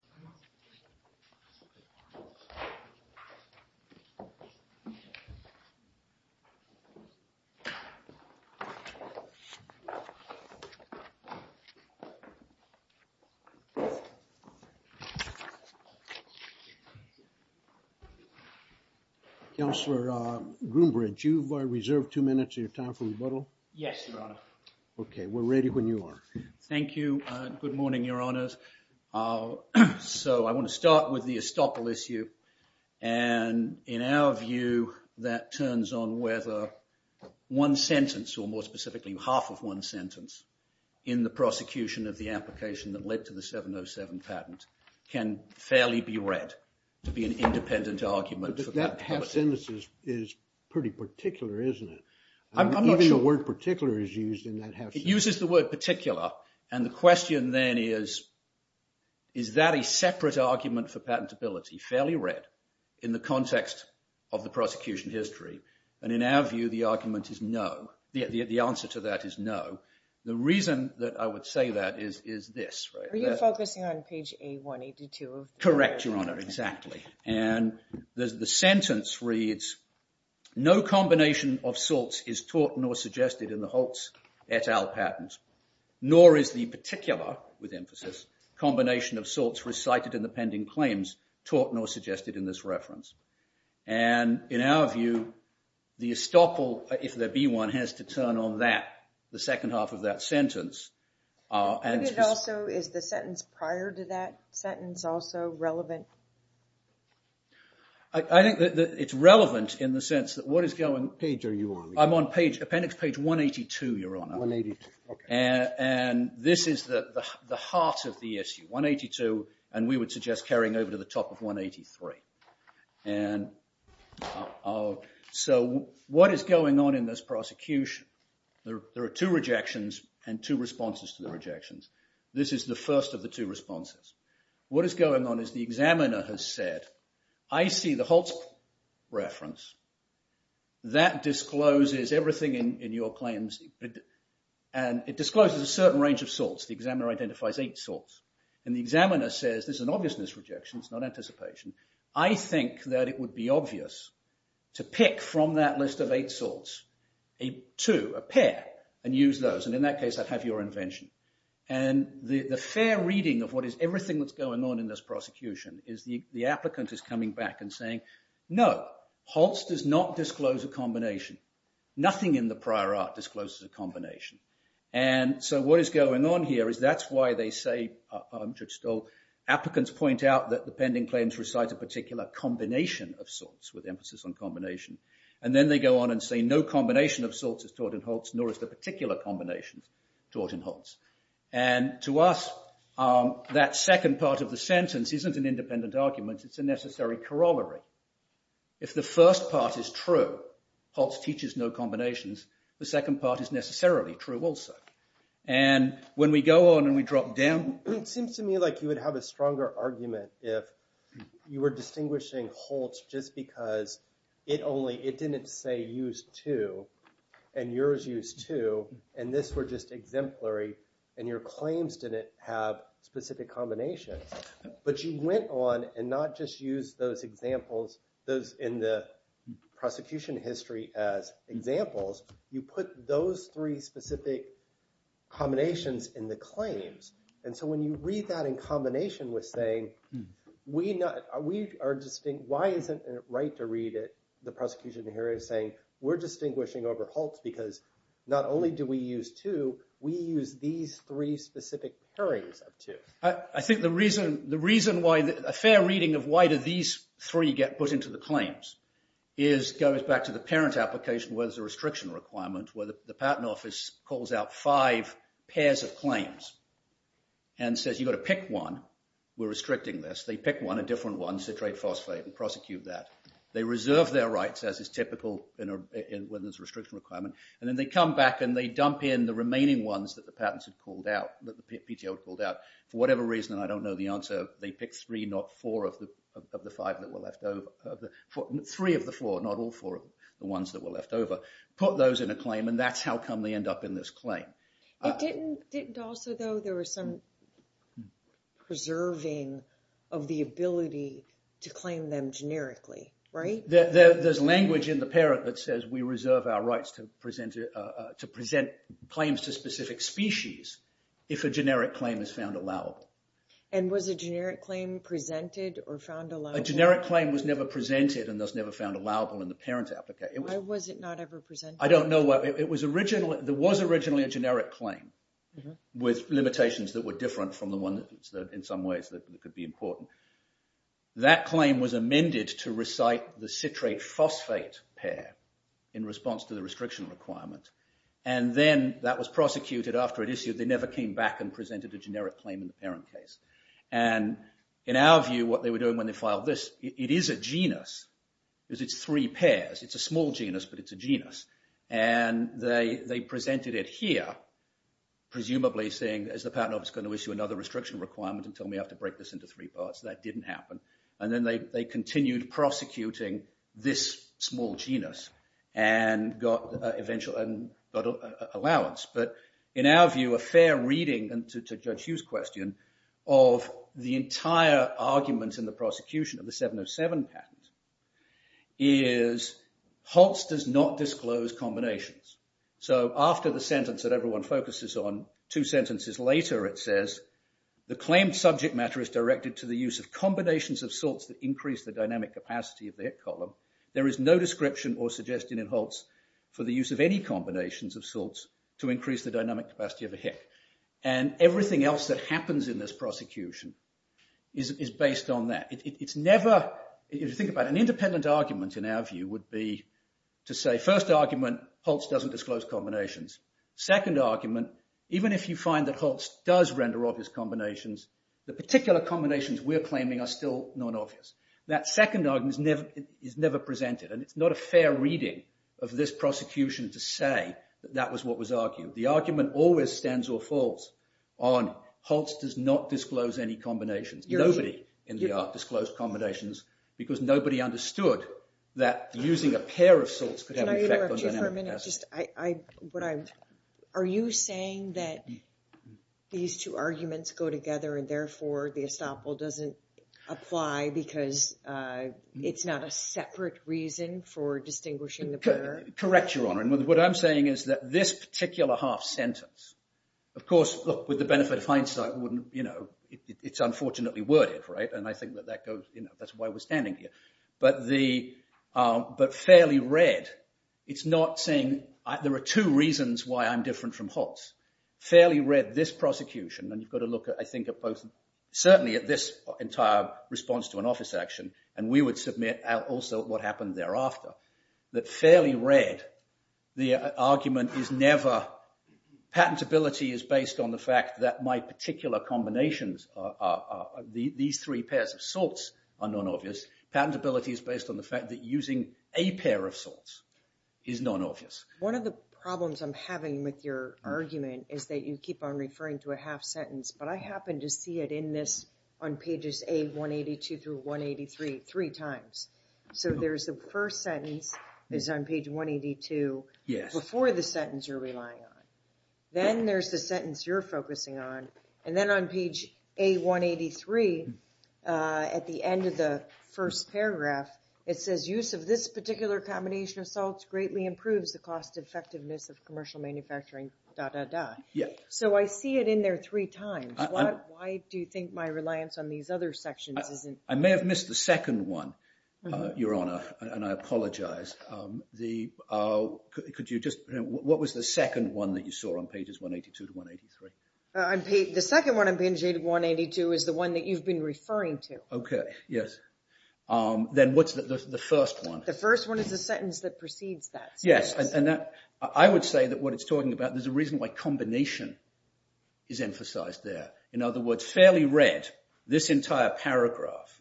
I'm going to go ahead and open it up to questions. Councillor Groombridge, you've reserved two minutes of your time for rebuttal? Yes, Your Honor. Okay. We're ready when you are. Thank you. Good morning, Your Honors. So I want to start with the estoppel issue. And in our view, that turns on whether one sentence, or more specifically half of one sentence, in the prosecution of the application that led to the 707 patent can fairly be read to be an independent argument. But that half sentence is pretty particular, isn't it? I'm not sure. Even the word particular is used in that half sentence. It uses the word particular, and the question then is, is that a separate argument for patentability, fairly read in the context of the prosecution history? And in our view, the argument is no. The answer to that is no. The reason that I would say that is this. Are you focusing on page 182? Correct, Your Honor. Exactly. And the sentence reads, no combination of sorts is taught nor suggested in the Holtz et al. patent. Nor is the particular, with emphasis, combination of sorts recited in the pending claims taught nor suggested in this reference. And in our view, the estoppel, if there be one, has to turn on that, the second half of that sentence. Is the sentence prior to that sentence also relevant? I think that it's relevant in the sense that what is going... Page are you on? I'm on appendix page 182, Your Honor. 182, okay. And this is the heart of the issue, 182, and we would suggest carrying over to the top of 183. So what is going on in this prosecution? There are two rejections and two responses to the rejections. This is the first of the two responses. What is going on is the examiner has said, I see the Holtz reference. That discloses everything in your claims. And it discloses a certain range of sorts. The examiner identifies eight sorts. And the examiner says, this is an obviousness rejection. It's not anticipation. I think that it would be obvious to pick from that list of eight sorts, a two, a pair, and use those. And in that case, I'd have your invention. And the fair reading of what is everything that's going on in this prosecution is the applicant is coming back and saying, no, Holtz does not disclose a combination. Nothing in the prior art discloses a combination. And so what is going on here is that's why they say, Judge Stolt, applicants point out that the pending claims recite a particular combination of sorts with emphasis on combination. And then they go on and say, no combination of sorts is taught in Holtz, nor is the particular combinations taught in Holtz. And to us, that second part of the sentence isn't an independent argument. It's a necessary corollary. If the first part is true, Holtz teaches no combinations. The second part is necessarily true also. And when we go on and we drop down, it seems to me like you would have a stronger argument if you were distinguishing Holtz just because it didn't say use two and yours used two. And this were just exemplary. And your claims didn't have specific combinations. But you went on and not just used those examples in the prosecution history as examples. You put those three specific combinations in the claims. And so when you read that in combination with saying, why isn't it right to read it, the prosecution here is saying, we're distinguishing over Holtz because not only do we use two, we use these three specific pairings of two. I think the reason why a fair reading of why do these three get put into the claims goes back to the parent application where there's a restriction requirement, where the patent office calls out five pairs of claims and says, you've got to pick one. We're restricting this. They pick one, a different one, citrate phosphate, and prosecute that. They reserve their rights, as is typical when there's a restriction requirement. And then they come back and they dump in the remaining ones that the patents had called out, that the PTO had called out. For whatever reason, and I don't know the answer, they picked three, not four of the five that were left over. Three of the four, not all four of the ones that were left over. Put those in a claim, and that's how come they end up in this claim. It didn't also, though, there was some preserving of the ability to claim them generically, right? There's language in the parent that says we reserve our rights to present claims to specific species if a generic claim is found allowable. And was a generic claim presented or found allowable? A generic claim was never presented and thus never found allowable in the parent application. Why was it not ever presented? I don't know. There was originally a generic claim with limitations that were different from the ones that in some ways that could be important. That claim was amended to recite the citrate phosphate pair in response to the restriction requirement. And then that was prosecuted after it issued. They never came back and presented a generic claim in the parent case. And in our view, what they were doing when they filed this, it is a genus because it's three pairs. It's a small genus, but it's a genus. And they presented it here, presumably saying, is the patent office going to issue another restriction requirement and tell me I have to break this into three parts? That didn't happen. And then they continued prosecuting this small genus and got an allowance. But in our view, a fair reading, and to Judge Hughes' question, of the entire argument in the prosecution of the 707 patent is Holtz does not disclose combinations. So after the sentence that everyone focuses on, two sentences later it says, the claimed subject matter is directed to the use of combinations of salts that increase the dynamic capacity of the hit column. There is no description or suggestion in Holtz for the use of any combinations of salts to increase the dynamic capacity of a hit. And everything else that happens in this prosecution is based on that. It's never, if you think about it, an independent argument in our view would be to say, first argument, Holtz doesn't disclose combinations. Second argument, even if you find that Holtz does render obvious combinations, the particular combinations we're claiming are still not obvious. That second argument is never presented. And it's not a fair reading of this prosecution to say that that was what was argued. The argument always stands or falls on Holtz does not disclose any combinations. Nobody in the art disclosed combinations because nobody understood that using a pair of salts could have an effect on dynamic capacity. Are you saying that these two arguments go together and therefore the estoppel doesn't apply because it's not a separate reason for distinguishing the pair? Correct, Your Honor. And what I'm saying is that this particular half sentence, of course, with the benefit of hindsight, it's unfortunately worded. And I think that's why we're standing here. But fairly read, it's not saying, there are two reasons why I'm different from Holtz. Fairly read this prosecution, and you've got to look, I think, at both, certainly at this entire response to an office action. And we would submit also what happened thereafter. That fairly read, the argument is never, patentability is based on the fact that my particular combinations, these three pairs of salts are non-obvious. Patentability is based on the fact that using a pair of salts is non-obvious. One of the problems I'm having with your argument is that you keep on referring to a half sentence. But I happen to see it in this on pages A182 through 183 three times. So there's the first sentence is on page 182 before the sentence you're relying on. Then there's the sentence you're focusing on. And then on page A183, at the end of the first paragraph, it says, use of this particular combination of salts greatly improves the cost effectiveness of commercial manufacturing, da, da, da. So I see it in there three times. Why do you think my reliance on these other sections isn't? I may have missed the second one, Your Honor, and I apologize. Could you just, what was the second one that you saw on pages 182 to 183? The second one on page 182 is the one that you've been referring to. Okay, yes. Then what's the first one? The first one is a sentence that precedes that. Yes, and I would say that what it's talking about, there's a reason why combination is emphasized there. In other words, fairly red, this entire paragraph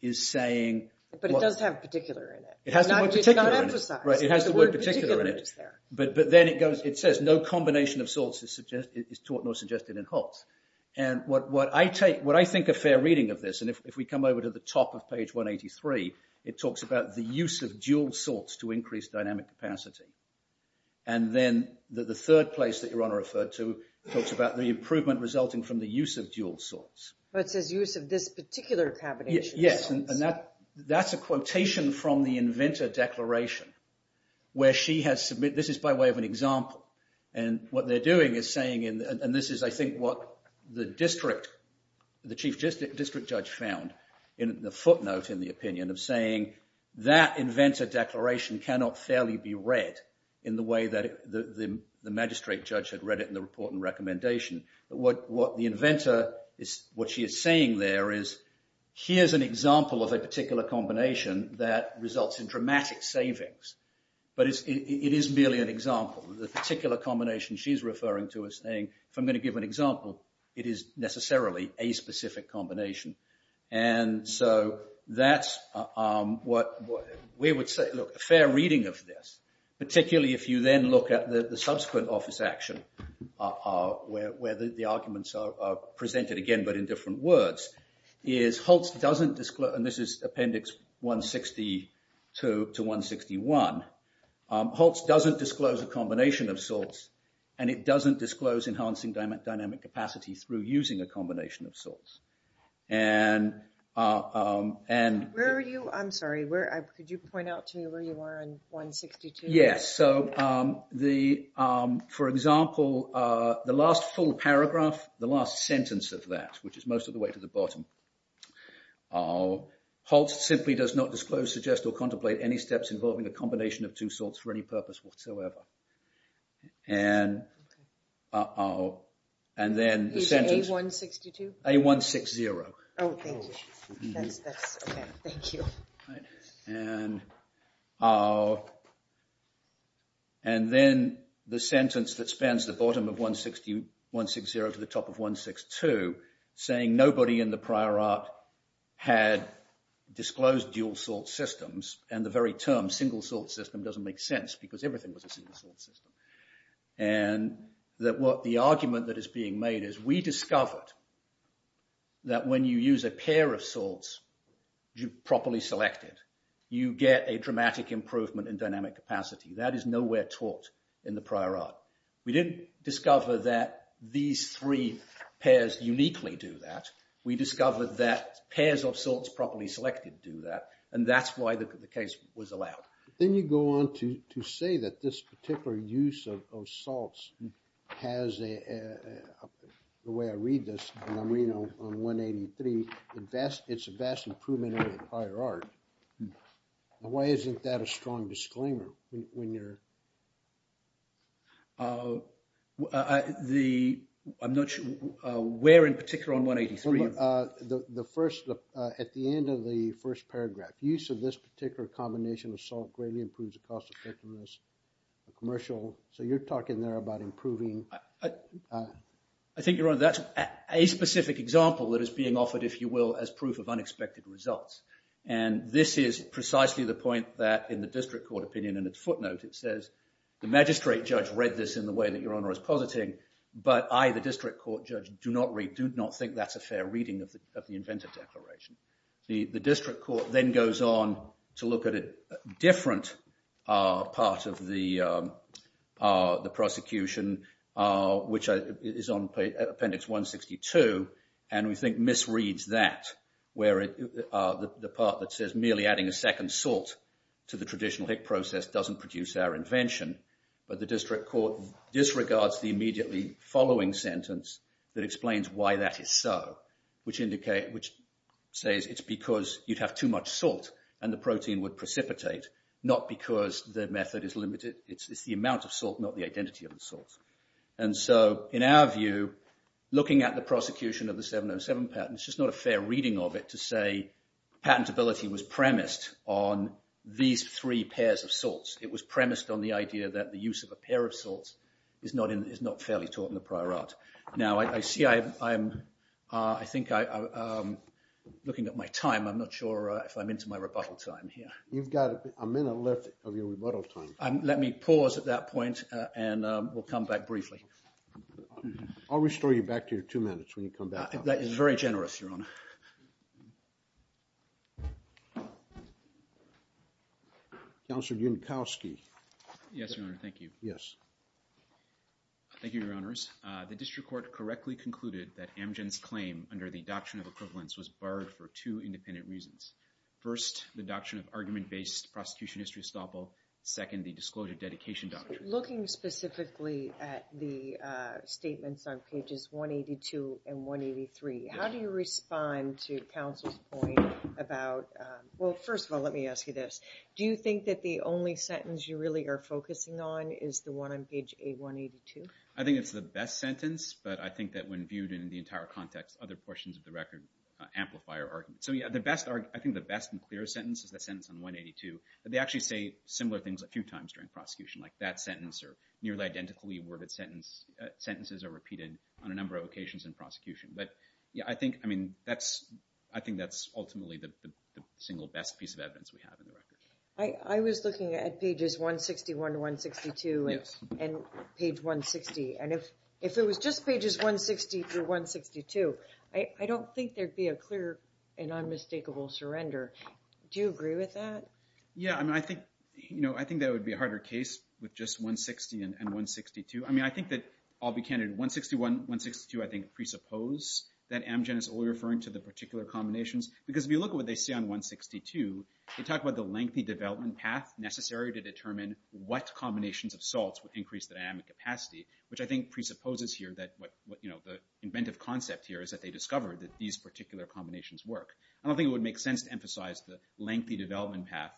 is saying. But it does have particular in it. It has the word particular in it. It's not emphasized. Right, it has the word particular in it. But then it goes, it says, no combination of salts is taught nor suggested in Holtz. And what I take, what I think a fair reading of this, and if we come over to the top of page 183, it talks about the use of dual salts to increase dynamic capacity. And then the third place that Your Honor referred to talks about the improvement resulting from the use of dual salts. But it says use of this particular combination of salts. Yes, and that's a quotation from the inventor declaration. Where she has submitted, this is by way of an example. And what they're doing is saying, and this is, I think, what the district, the chief district judge found in the footnote in the opinion of saying, that inventor declaration cannot fairly be read in the way that the magistrate judge had read it in the report and recommendation. What the inventor is, what she is saying there is, here's an example of a particular combination that results in dramatic savings. But it is merely an example. The particular combination she's referring to is saying, if I'm going to give an example, it is necessarily a specific combination. And so that's what we would say, look, a fair reading of this. Particularly if you then look at the subsequent office action, where the arguments are presented again, but in different words. Is Holtz doesn't disclose, and this is appendix 162 to 161. Holtz doesn't disclose a combination of salts. And it doesn't disclose enhancing dynamic capacity through using a combination of salts. Where are you, I'm sorry, could you point out to me where you are in 162? Yes, so the, for example, the last full paragraph, the last sentence of that, which is most of the way to the bottom. Holtz simply does not disclose, suggest or contemplate any steps involving a combination of two salts for any purpose whatsoever. And then the sentence. Is it A162? A160. Oh, thank you. That's okay, thank you. And then the sentence that spans the bottom of 160, 160 to the top of 162, saying nobody in the prior art had disclosed dual salt systems. And the very term, single salt system, doesn't make sense, because everything was a single salt system. And that what the argument that is being made is we discovered that when you use a pair of salts properly selected, you get a dramatic improvement in dynamic capacity. That is nowhere taught in the prior art. We didn't discover that these three pairs uniquely do that. We discovered that pairs of salts properly selected do that. And that's why the case was allowed. Then you go on to say that this particular use of salts has a, the way I read this, and I'm reading on 183, it's a vast improvement in the prior art. Why isn't that a strong disclaimer when you're? I'm not sure where in particular on 183. The first, at the end of the first paragraph, use of this particular combination of salt greatly improves the cost effectiveness, the commercial. So you're talking there about improving. I think you're right. That's a specific example that is being offered, if you will, as proof of unexpected results. And this is precisely the point that in the district court opinion, in its footnote it says, the magistrate judge read this in the way that your honor is positing, but I, the district court judge, do not read, do not think that's a fair reading of the inventor declaration. The district court then goes on to look at a different part of the prosecution, which is on appendix 162, and we think misreads that, where the part that says merely adding a second salt to the traditional Hick process doesn't produce our invention. But the district court disregards the immediately following sentence that says it's because you'd have too much salt and the protein would precipitate, not because the method is limited. It's the amount of salt, not the identity of the salt. And so in our view, looking at the prosecution of the 707 patent, it's just not a fair reading of it to say patentability was premised on these three pairs of salts. It was premised on the idea that the use of a pair of salts is not fairly taught in the prior art. Now, I see I'm, I think I, looking at my time, I'm not sure if I'm into my rebuttal time here. You've got a minute left of your rebuttal time. Let me pause at that point and we'll come back briefly. I'll restore you back to your two minutes when you come back. That is very generous, Your Honor. Counselor Junkowski. Yes, Your Honor. Thank you. Yes. Thank you, Your Honors. The district court correctly concluded that Amgen's claim under the Doctrine of Equivalence was barred for two independent reasons. First, the Doctrine of Argument-Based Prosecution History Estoppel. Second, the Disclosure of Dedication Doctrine. Looking specifically at the statements on pages 182 and 183, how do you respond to counsel's point about, well, first of all, let me ask you this. Do you think that the only sentence you really are focusing on is the one on page 182? I think it's the best sentence, but I think that when viewed in the entire context, other portions of the record amplify our argument. So, yeah, I think the best and clearest sentence is the sentence on 182. They actually say similar things a few times during prosecution, like that sentence or nearly identically worded sentences are repeated on a number of occasions in prosecution. But, yeah, I think that's ultimately the single best piece of evidence we have in the record. I was looking at pages 161 to 162 and page 160, and if it was just pages 160 through 162, I don't think there'd be a clear and unmistakable surrender. Do you agree with that? Yeah, I mean, I think that would be a harder case with just 160 and 162. I mean, I think that I'll be candid, 161, 162, I think presuppose that Amgen is only referring to the particular combinations, because if you look at what they say on 162, they talk about the lengthy development path necessary to determine what combinations of salts would increase the dynamic capacity, which I think presupposes here that what, you know, the inventive concept here is that they discovered that these particular combinations work. I don't think it would make sense to emphasize the lengthy development path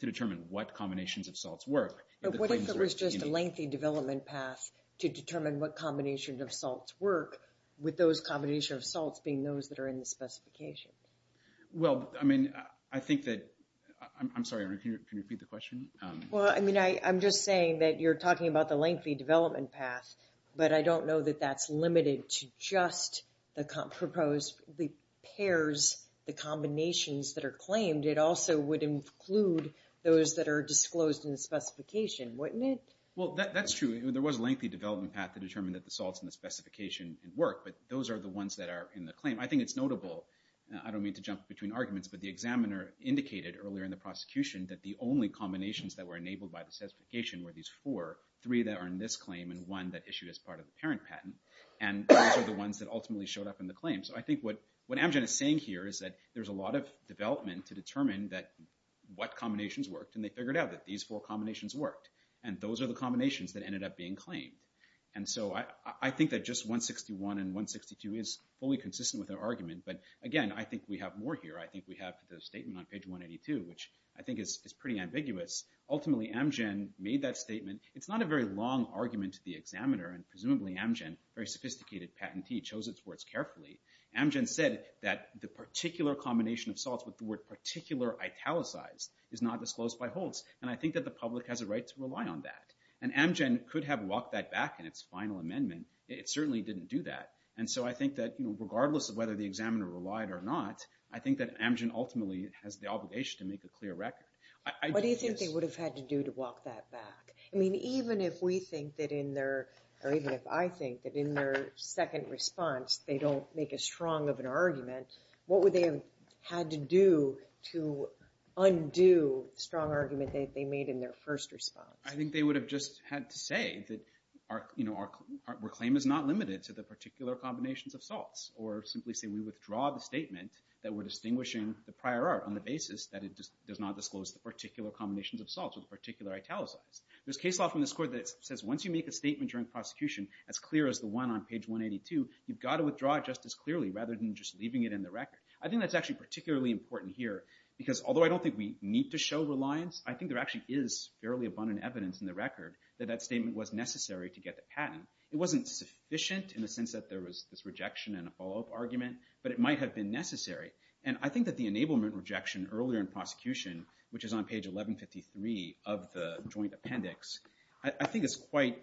to determine what combinations of salts work. But what if there was just a lengthy development path to determine what combination of salts work with those combination of salts being those that are in the specifications? Well, I mean, I think that, I'm sorry, can you repeat the question? Well, I mean, I'm just saying that you're talking about the lengthy development path, but I don't know that that's limited to just the proposed pairs, the combinations that are claimed. It also would include those that are disclosed in the specification, wouldn't it? Well, that's true. There was a lengthy development path to determine that the salts in the specification work, but those are the ones that are in the claim. I think it's notable, I don't mean to jump between arguments, but the examiner indicated earlier in the prosecution that the only combinations that were enabled by the specification were these four, three that are in this claim and one that issued as part of the parent patent. And those are the ones that ultimately showed up in the claim. So I think what, what Amgen is saying here is that there's a lot of development to determine that what combinations worked and they figured out that these four combinations worked and those are the combinations that ended up being claimed. And so I think that just 161 and 162 is fully consistent with their argument. But again, I think we have more here. I think we have the statement on page 182, which I think is pretty ambiguous. Ultimately Amgen made that statement. It's not a very long argument to the examiner and presumably Amgen, very sophisticated patentee, chose its words carefully. Amgen said that the particular combination of salts with the word particular italicized is not disclosed by Holtz. And I think that the public has a right to rely on that. And Amgen could have walked that back in its final amendment. It certainly didn't do that. And so I think that, you know, regardless of whether the examiner relied or not, I think that Amgen ultimately has the obligation to make a clear record. What do you think they would have had to do to walk that back? I mean, even if we think that in their, or even if I think that in their second response, they don't make a strong of an argument, what would they have had to do to undo strong argument that they made in their first response? I think they would have just had to say that, you know, our claim is not limited to the particular combinations of salts, or simply say we withdraw the statement that we're distinguishing the prior art on the basis that it does not disclose the particular combinations of salts with particular italicized. There's case law from this court that says once you make a statement during prosecution as clear as the one on page 182, you've got to withdraw it just as clearly rather than just leaving it in the record. I think that's actually particularly important here because although I don't think we need to show reliance, I think there actually is fairly abundant evidence in the record that that statement was necessary to get the patent. It wasn't sufficient in the sense that there was this rejection and a follow up argument, but it might have been necessary. And I think that the enablement rejection earlier in prosecution, which is on page 1153 of the joint appendix, I think is quite,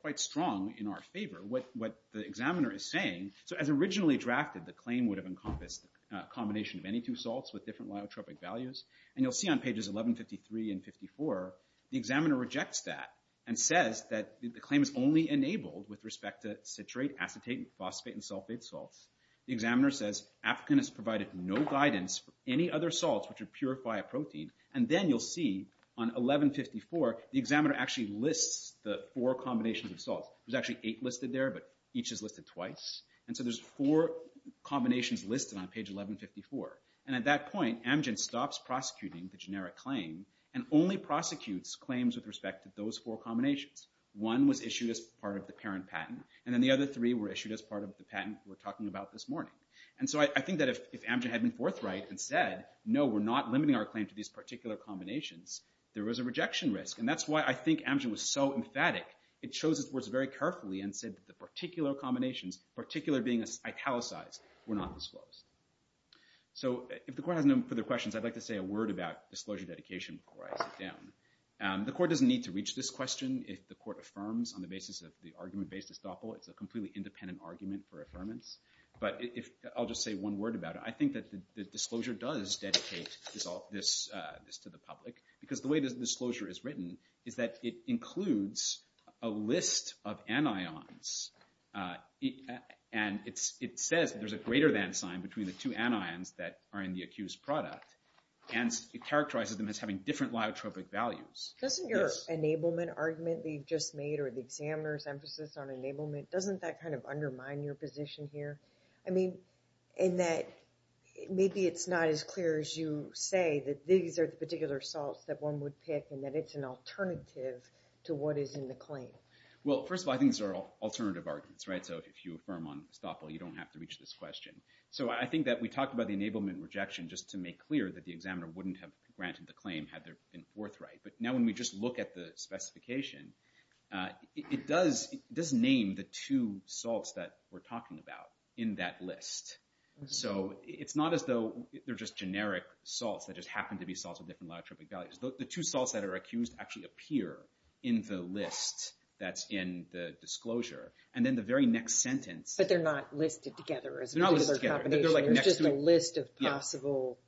quite strong in our favor. What, what the examiner is saying. So as originally drafted, the claim would have encompassed a combination of any two salts with different lyotropic values. And you'll see on pages 1153 and 54, the examiner rejects that and says that the claim is only enabled with respect to citrate, acetate, phosphate, and sulfate salts. The examiner says African has provided no guidance for any other salts, which would purify a protein. And then you'll see on 1154, the examiner actually lists the four combinations of salts. There's actually eight listed there, but each is listed twice. And so there's four combinations listed on page 1154. And at that point, Amgen stops prosecuting the generic claim and only prosecutes claims with respect to those four combinations. One was issued as part of the parent patent. And then the other three were issued as part of the patent we're talking about this morning. And so I think that if, if Amgen had been forthright and said, no, we're not limiting our claim to these particular combinations, there was a rejection risk. And that's why I think Amgen was so emphatic. It chose its words very carefully and said that the particular combinations, particular being italicized, were not disclosed. So if the court has no further questions, I'd like to say a word about disclosure dedication before I sit down. The court doesn't need to reach this question. If the court affirms on the basis of the argument-based estoppel, it's a completely independent argument for affirmance. But if I'll just say one word about it, I think that the disclosure does dedicate this to the public because the way the disclosure is written is that it includes a list of anions. And it's, it says there's a greater than sign between the two anions that are in the accused product. And it characterizes them as having different lyotropic values. Doesn't your enablement argument that you've just made, or the examiner's emphasis on enablement, doesn't that kind of undermine your position here? I mean, in that maybe it's not as clear as you say, that these are the particular salts that one would pick and that it's an alternative to what is in the claim. Well, first of all, I think these are alternative arguments, right? So if you affirm on estoppel, you don't have to reach this question. So I think that we talked about the enablement rejection just to make clear that the examiner wouldn't have granted the claim had there been forthright. But now when we just look at the specification, it does, it does name the two salts that we're talking about in that list. So it's not as though they're just generic salts that just happened to be salts with different lyotropic values. The two salts that are accused actually appear in the list that's in the disclosure and then the very next sentence. But they're not listed together as a particular combination. It's just a list of possible.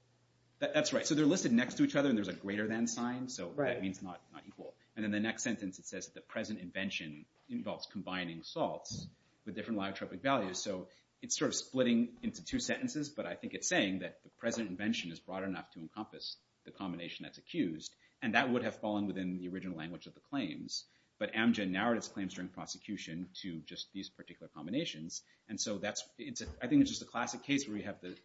That's right. So they're listed next to each other and there's a greater than sign. So that means not equal. And then the next sentence, it says that the present invention involves combining salts with different lyotropic values. So it's sort of splitting into two sentences, but I think it's saying that the present invention is broad enough to be used and that would have fallen within the original language of the claims. But Amgen narrowed its claims during prosecution to just these particular combinations. And so that's, I think it's just a classic case where we have the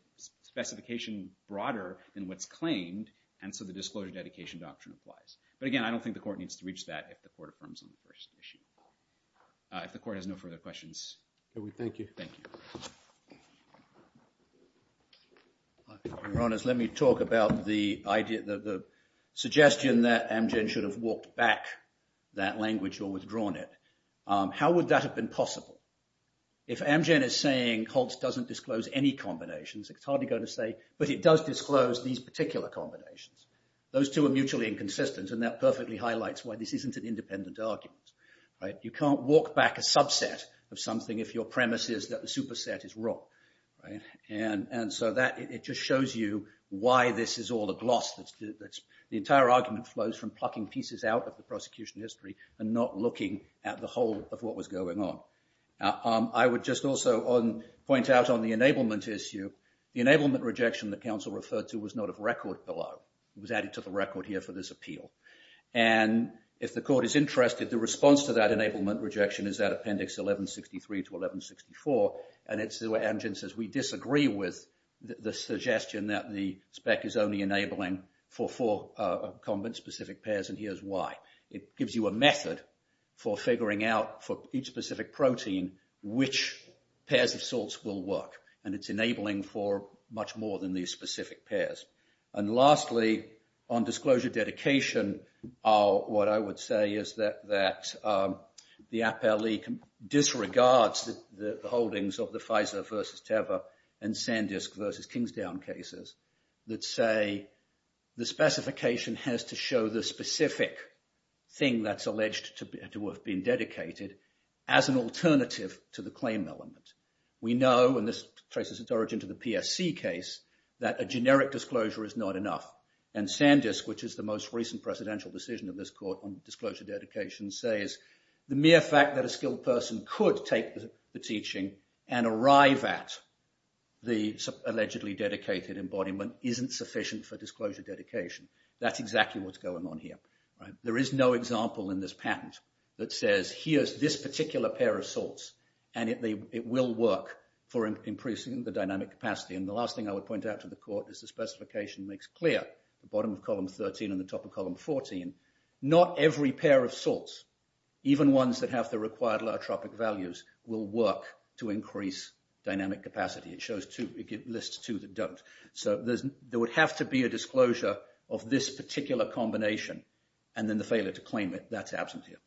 specification broader than what's claimed. And so the disclosure dedication doctrine applies. But again, I don't think the court needs to reach that if the court affirms on the first issue. If the court has no further questions. We thank you. Thank you. Your Honor, let me talk about the idea that the suggestion that Amgen should have walked back that language or withdrawn it. How would that have been possible? If Amgen is saying Holtz doesn't disclose any combinations, it's hardly going to say, but it does disclose these particular combinations. Those two are mutually inconsistent and that perfectly highlights why this isn't an independent argument, right? You can't walk back a subset of something if your premise is that the superset is wrong, right? And so that, it just shows you why this is all the gloss that's, the entire argument flows from plucking pieces out of the prosecution history and not looking at the whole of what was going on. I would just also point out on the enablement issue, the enablement rejection that counsel referred to was not a record below. It was added to the record here for this appeal. And if the court is interested, the response to that enablement rejection is that appendix 1163 to 1164. And it's where Amgen says, we disagree with the suggestion that the spec is only enabling for four specific pairs and here's why. It gives you a method for figuring out for each specific protein, which pairs of salts will work. And it's enabling for much more than these specific pairs. And lastly, on disclosure dedication, what I would say is that the APALE disregards the holdings of the Pfizer versus Teva and Sandisk versus Kingsdown cases that say the specification has to show the specific thing that's alleged to be, to have been dedicated as an alternative to the claim element. We know, and this traces its origin to the PSC case, that a generic disclosure is not enough. And Sandisk, which is the most recent presidential decision of this court on disclosure dedication says, the mere fact that a skilled person could take the teaching and arrive at the allegedly dedicated embodiment isn't sufficient for disclosure dedication. That's exactly what's going on here. There is no example in this patent that says, here's this particular pair of salts and it will work for increasing the dynamic capacity. And the last thing I would point out to the court is the specification makes clear the bottom of column 13 and the top of column 14. Not every pair of salts, even ones that have the required law tropic values will work to increase dynamic capacity. It shows two, it lists two that don't. So there would have to be a disclosure of this particular combination and then the failure to claim it. That's absent here.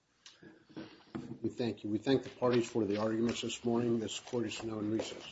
We thank you. We thank the parties for the arguments this morning. This court is now in recess.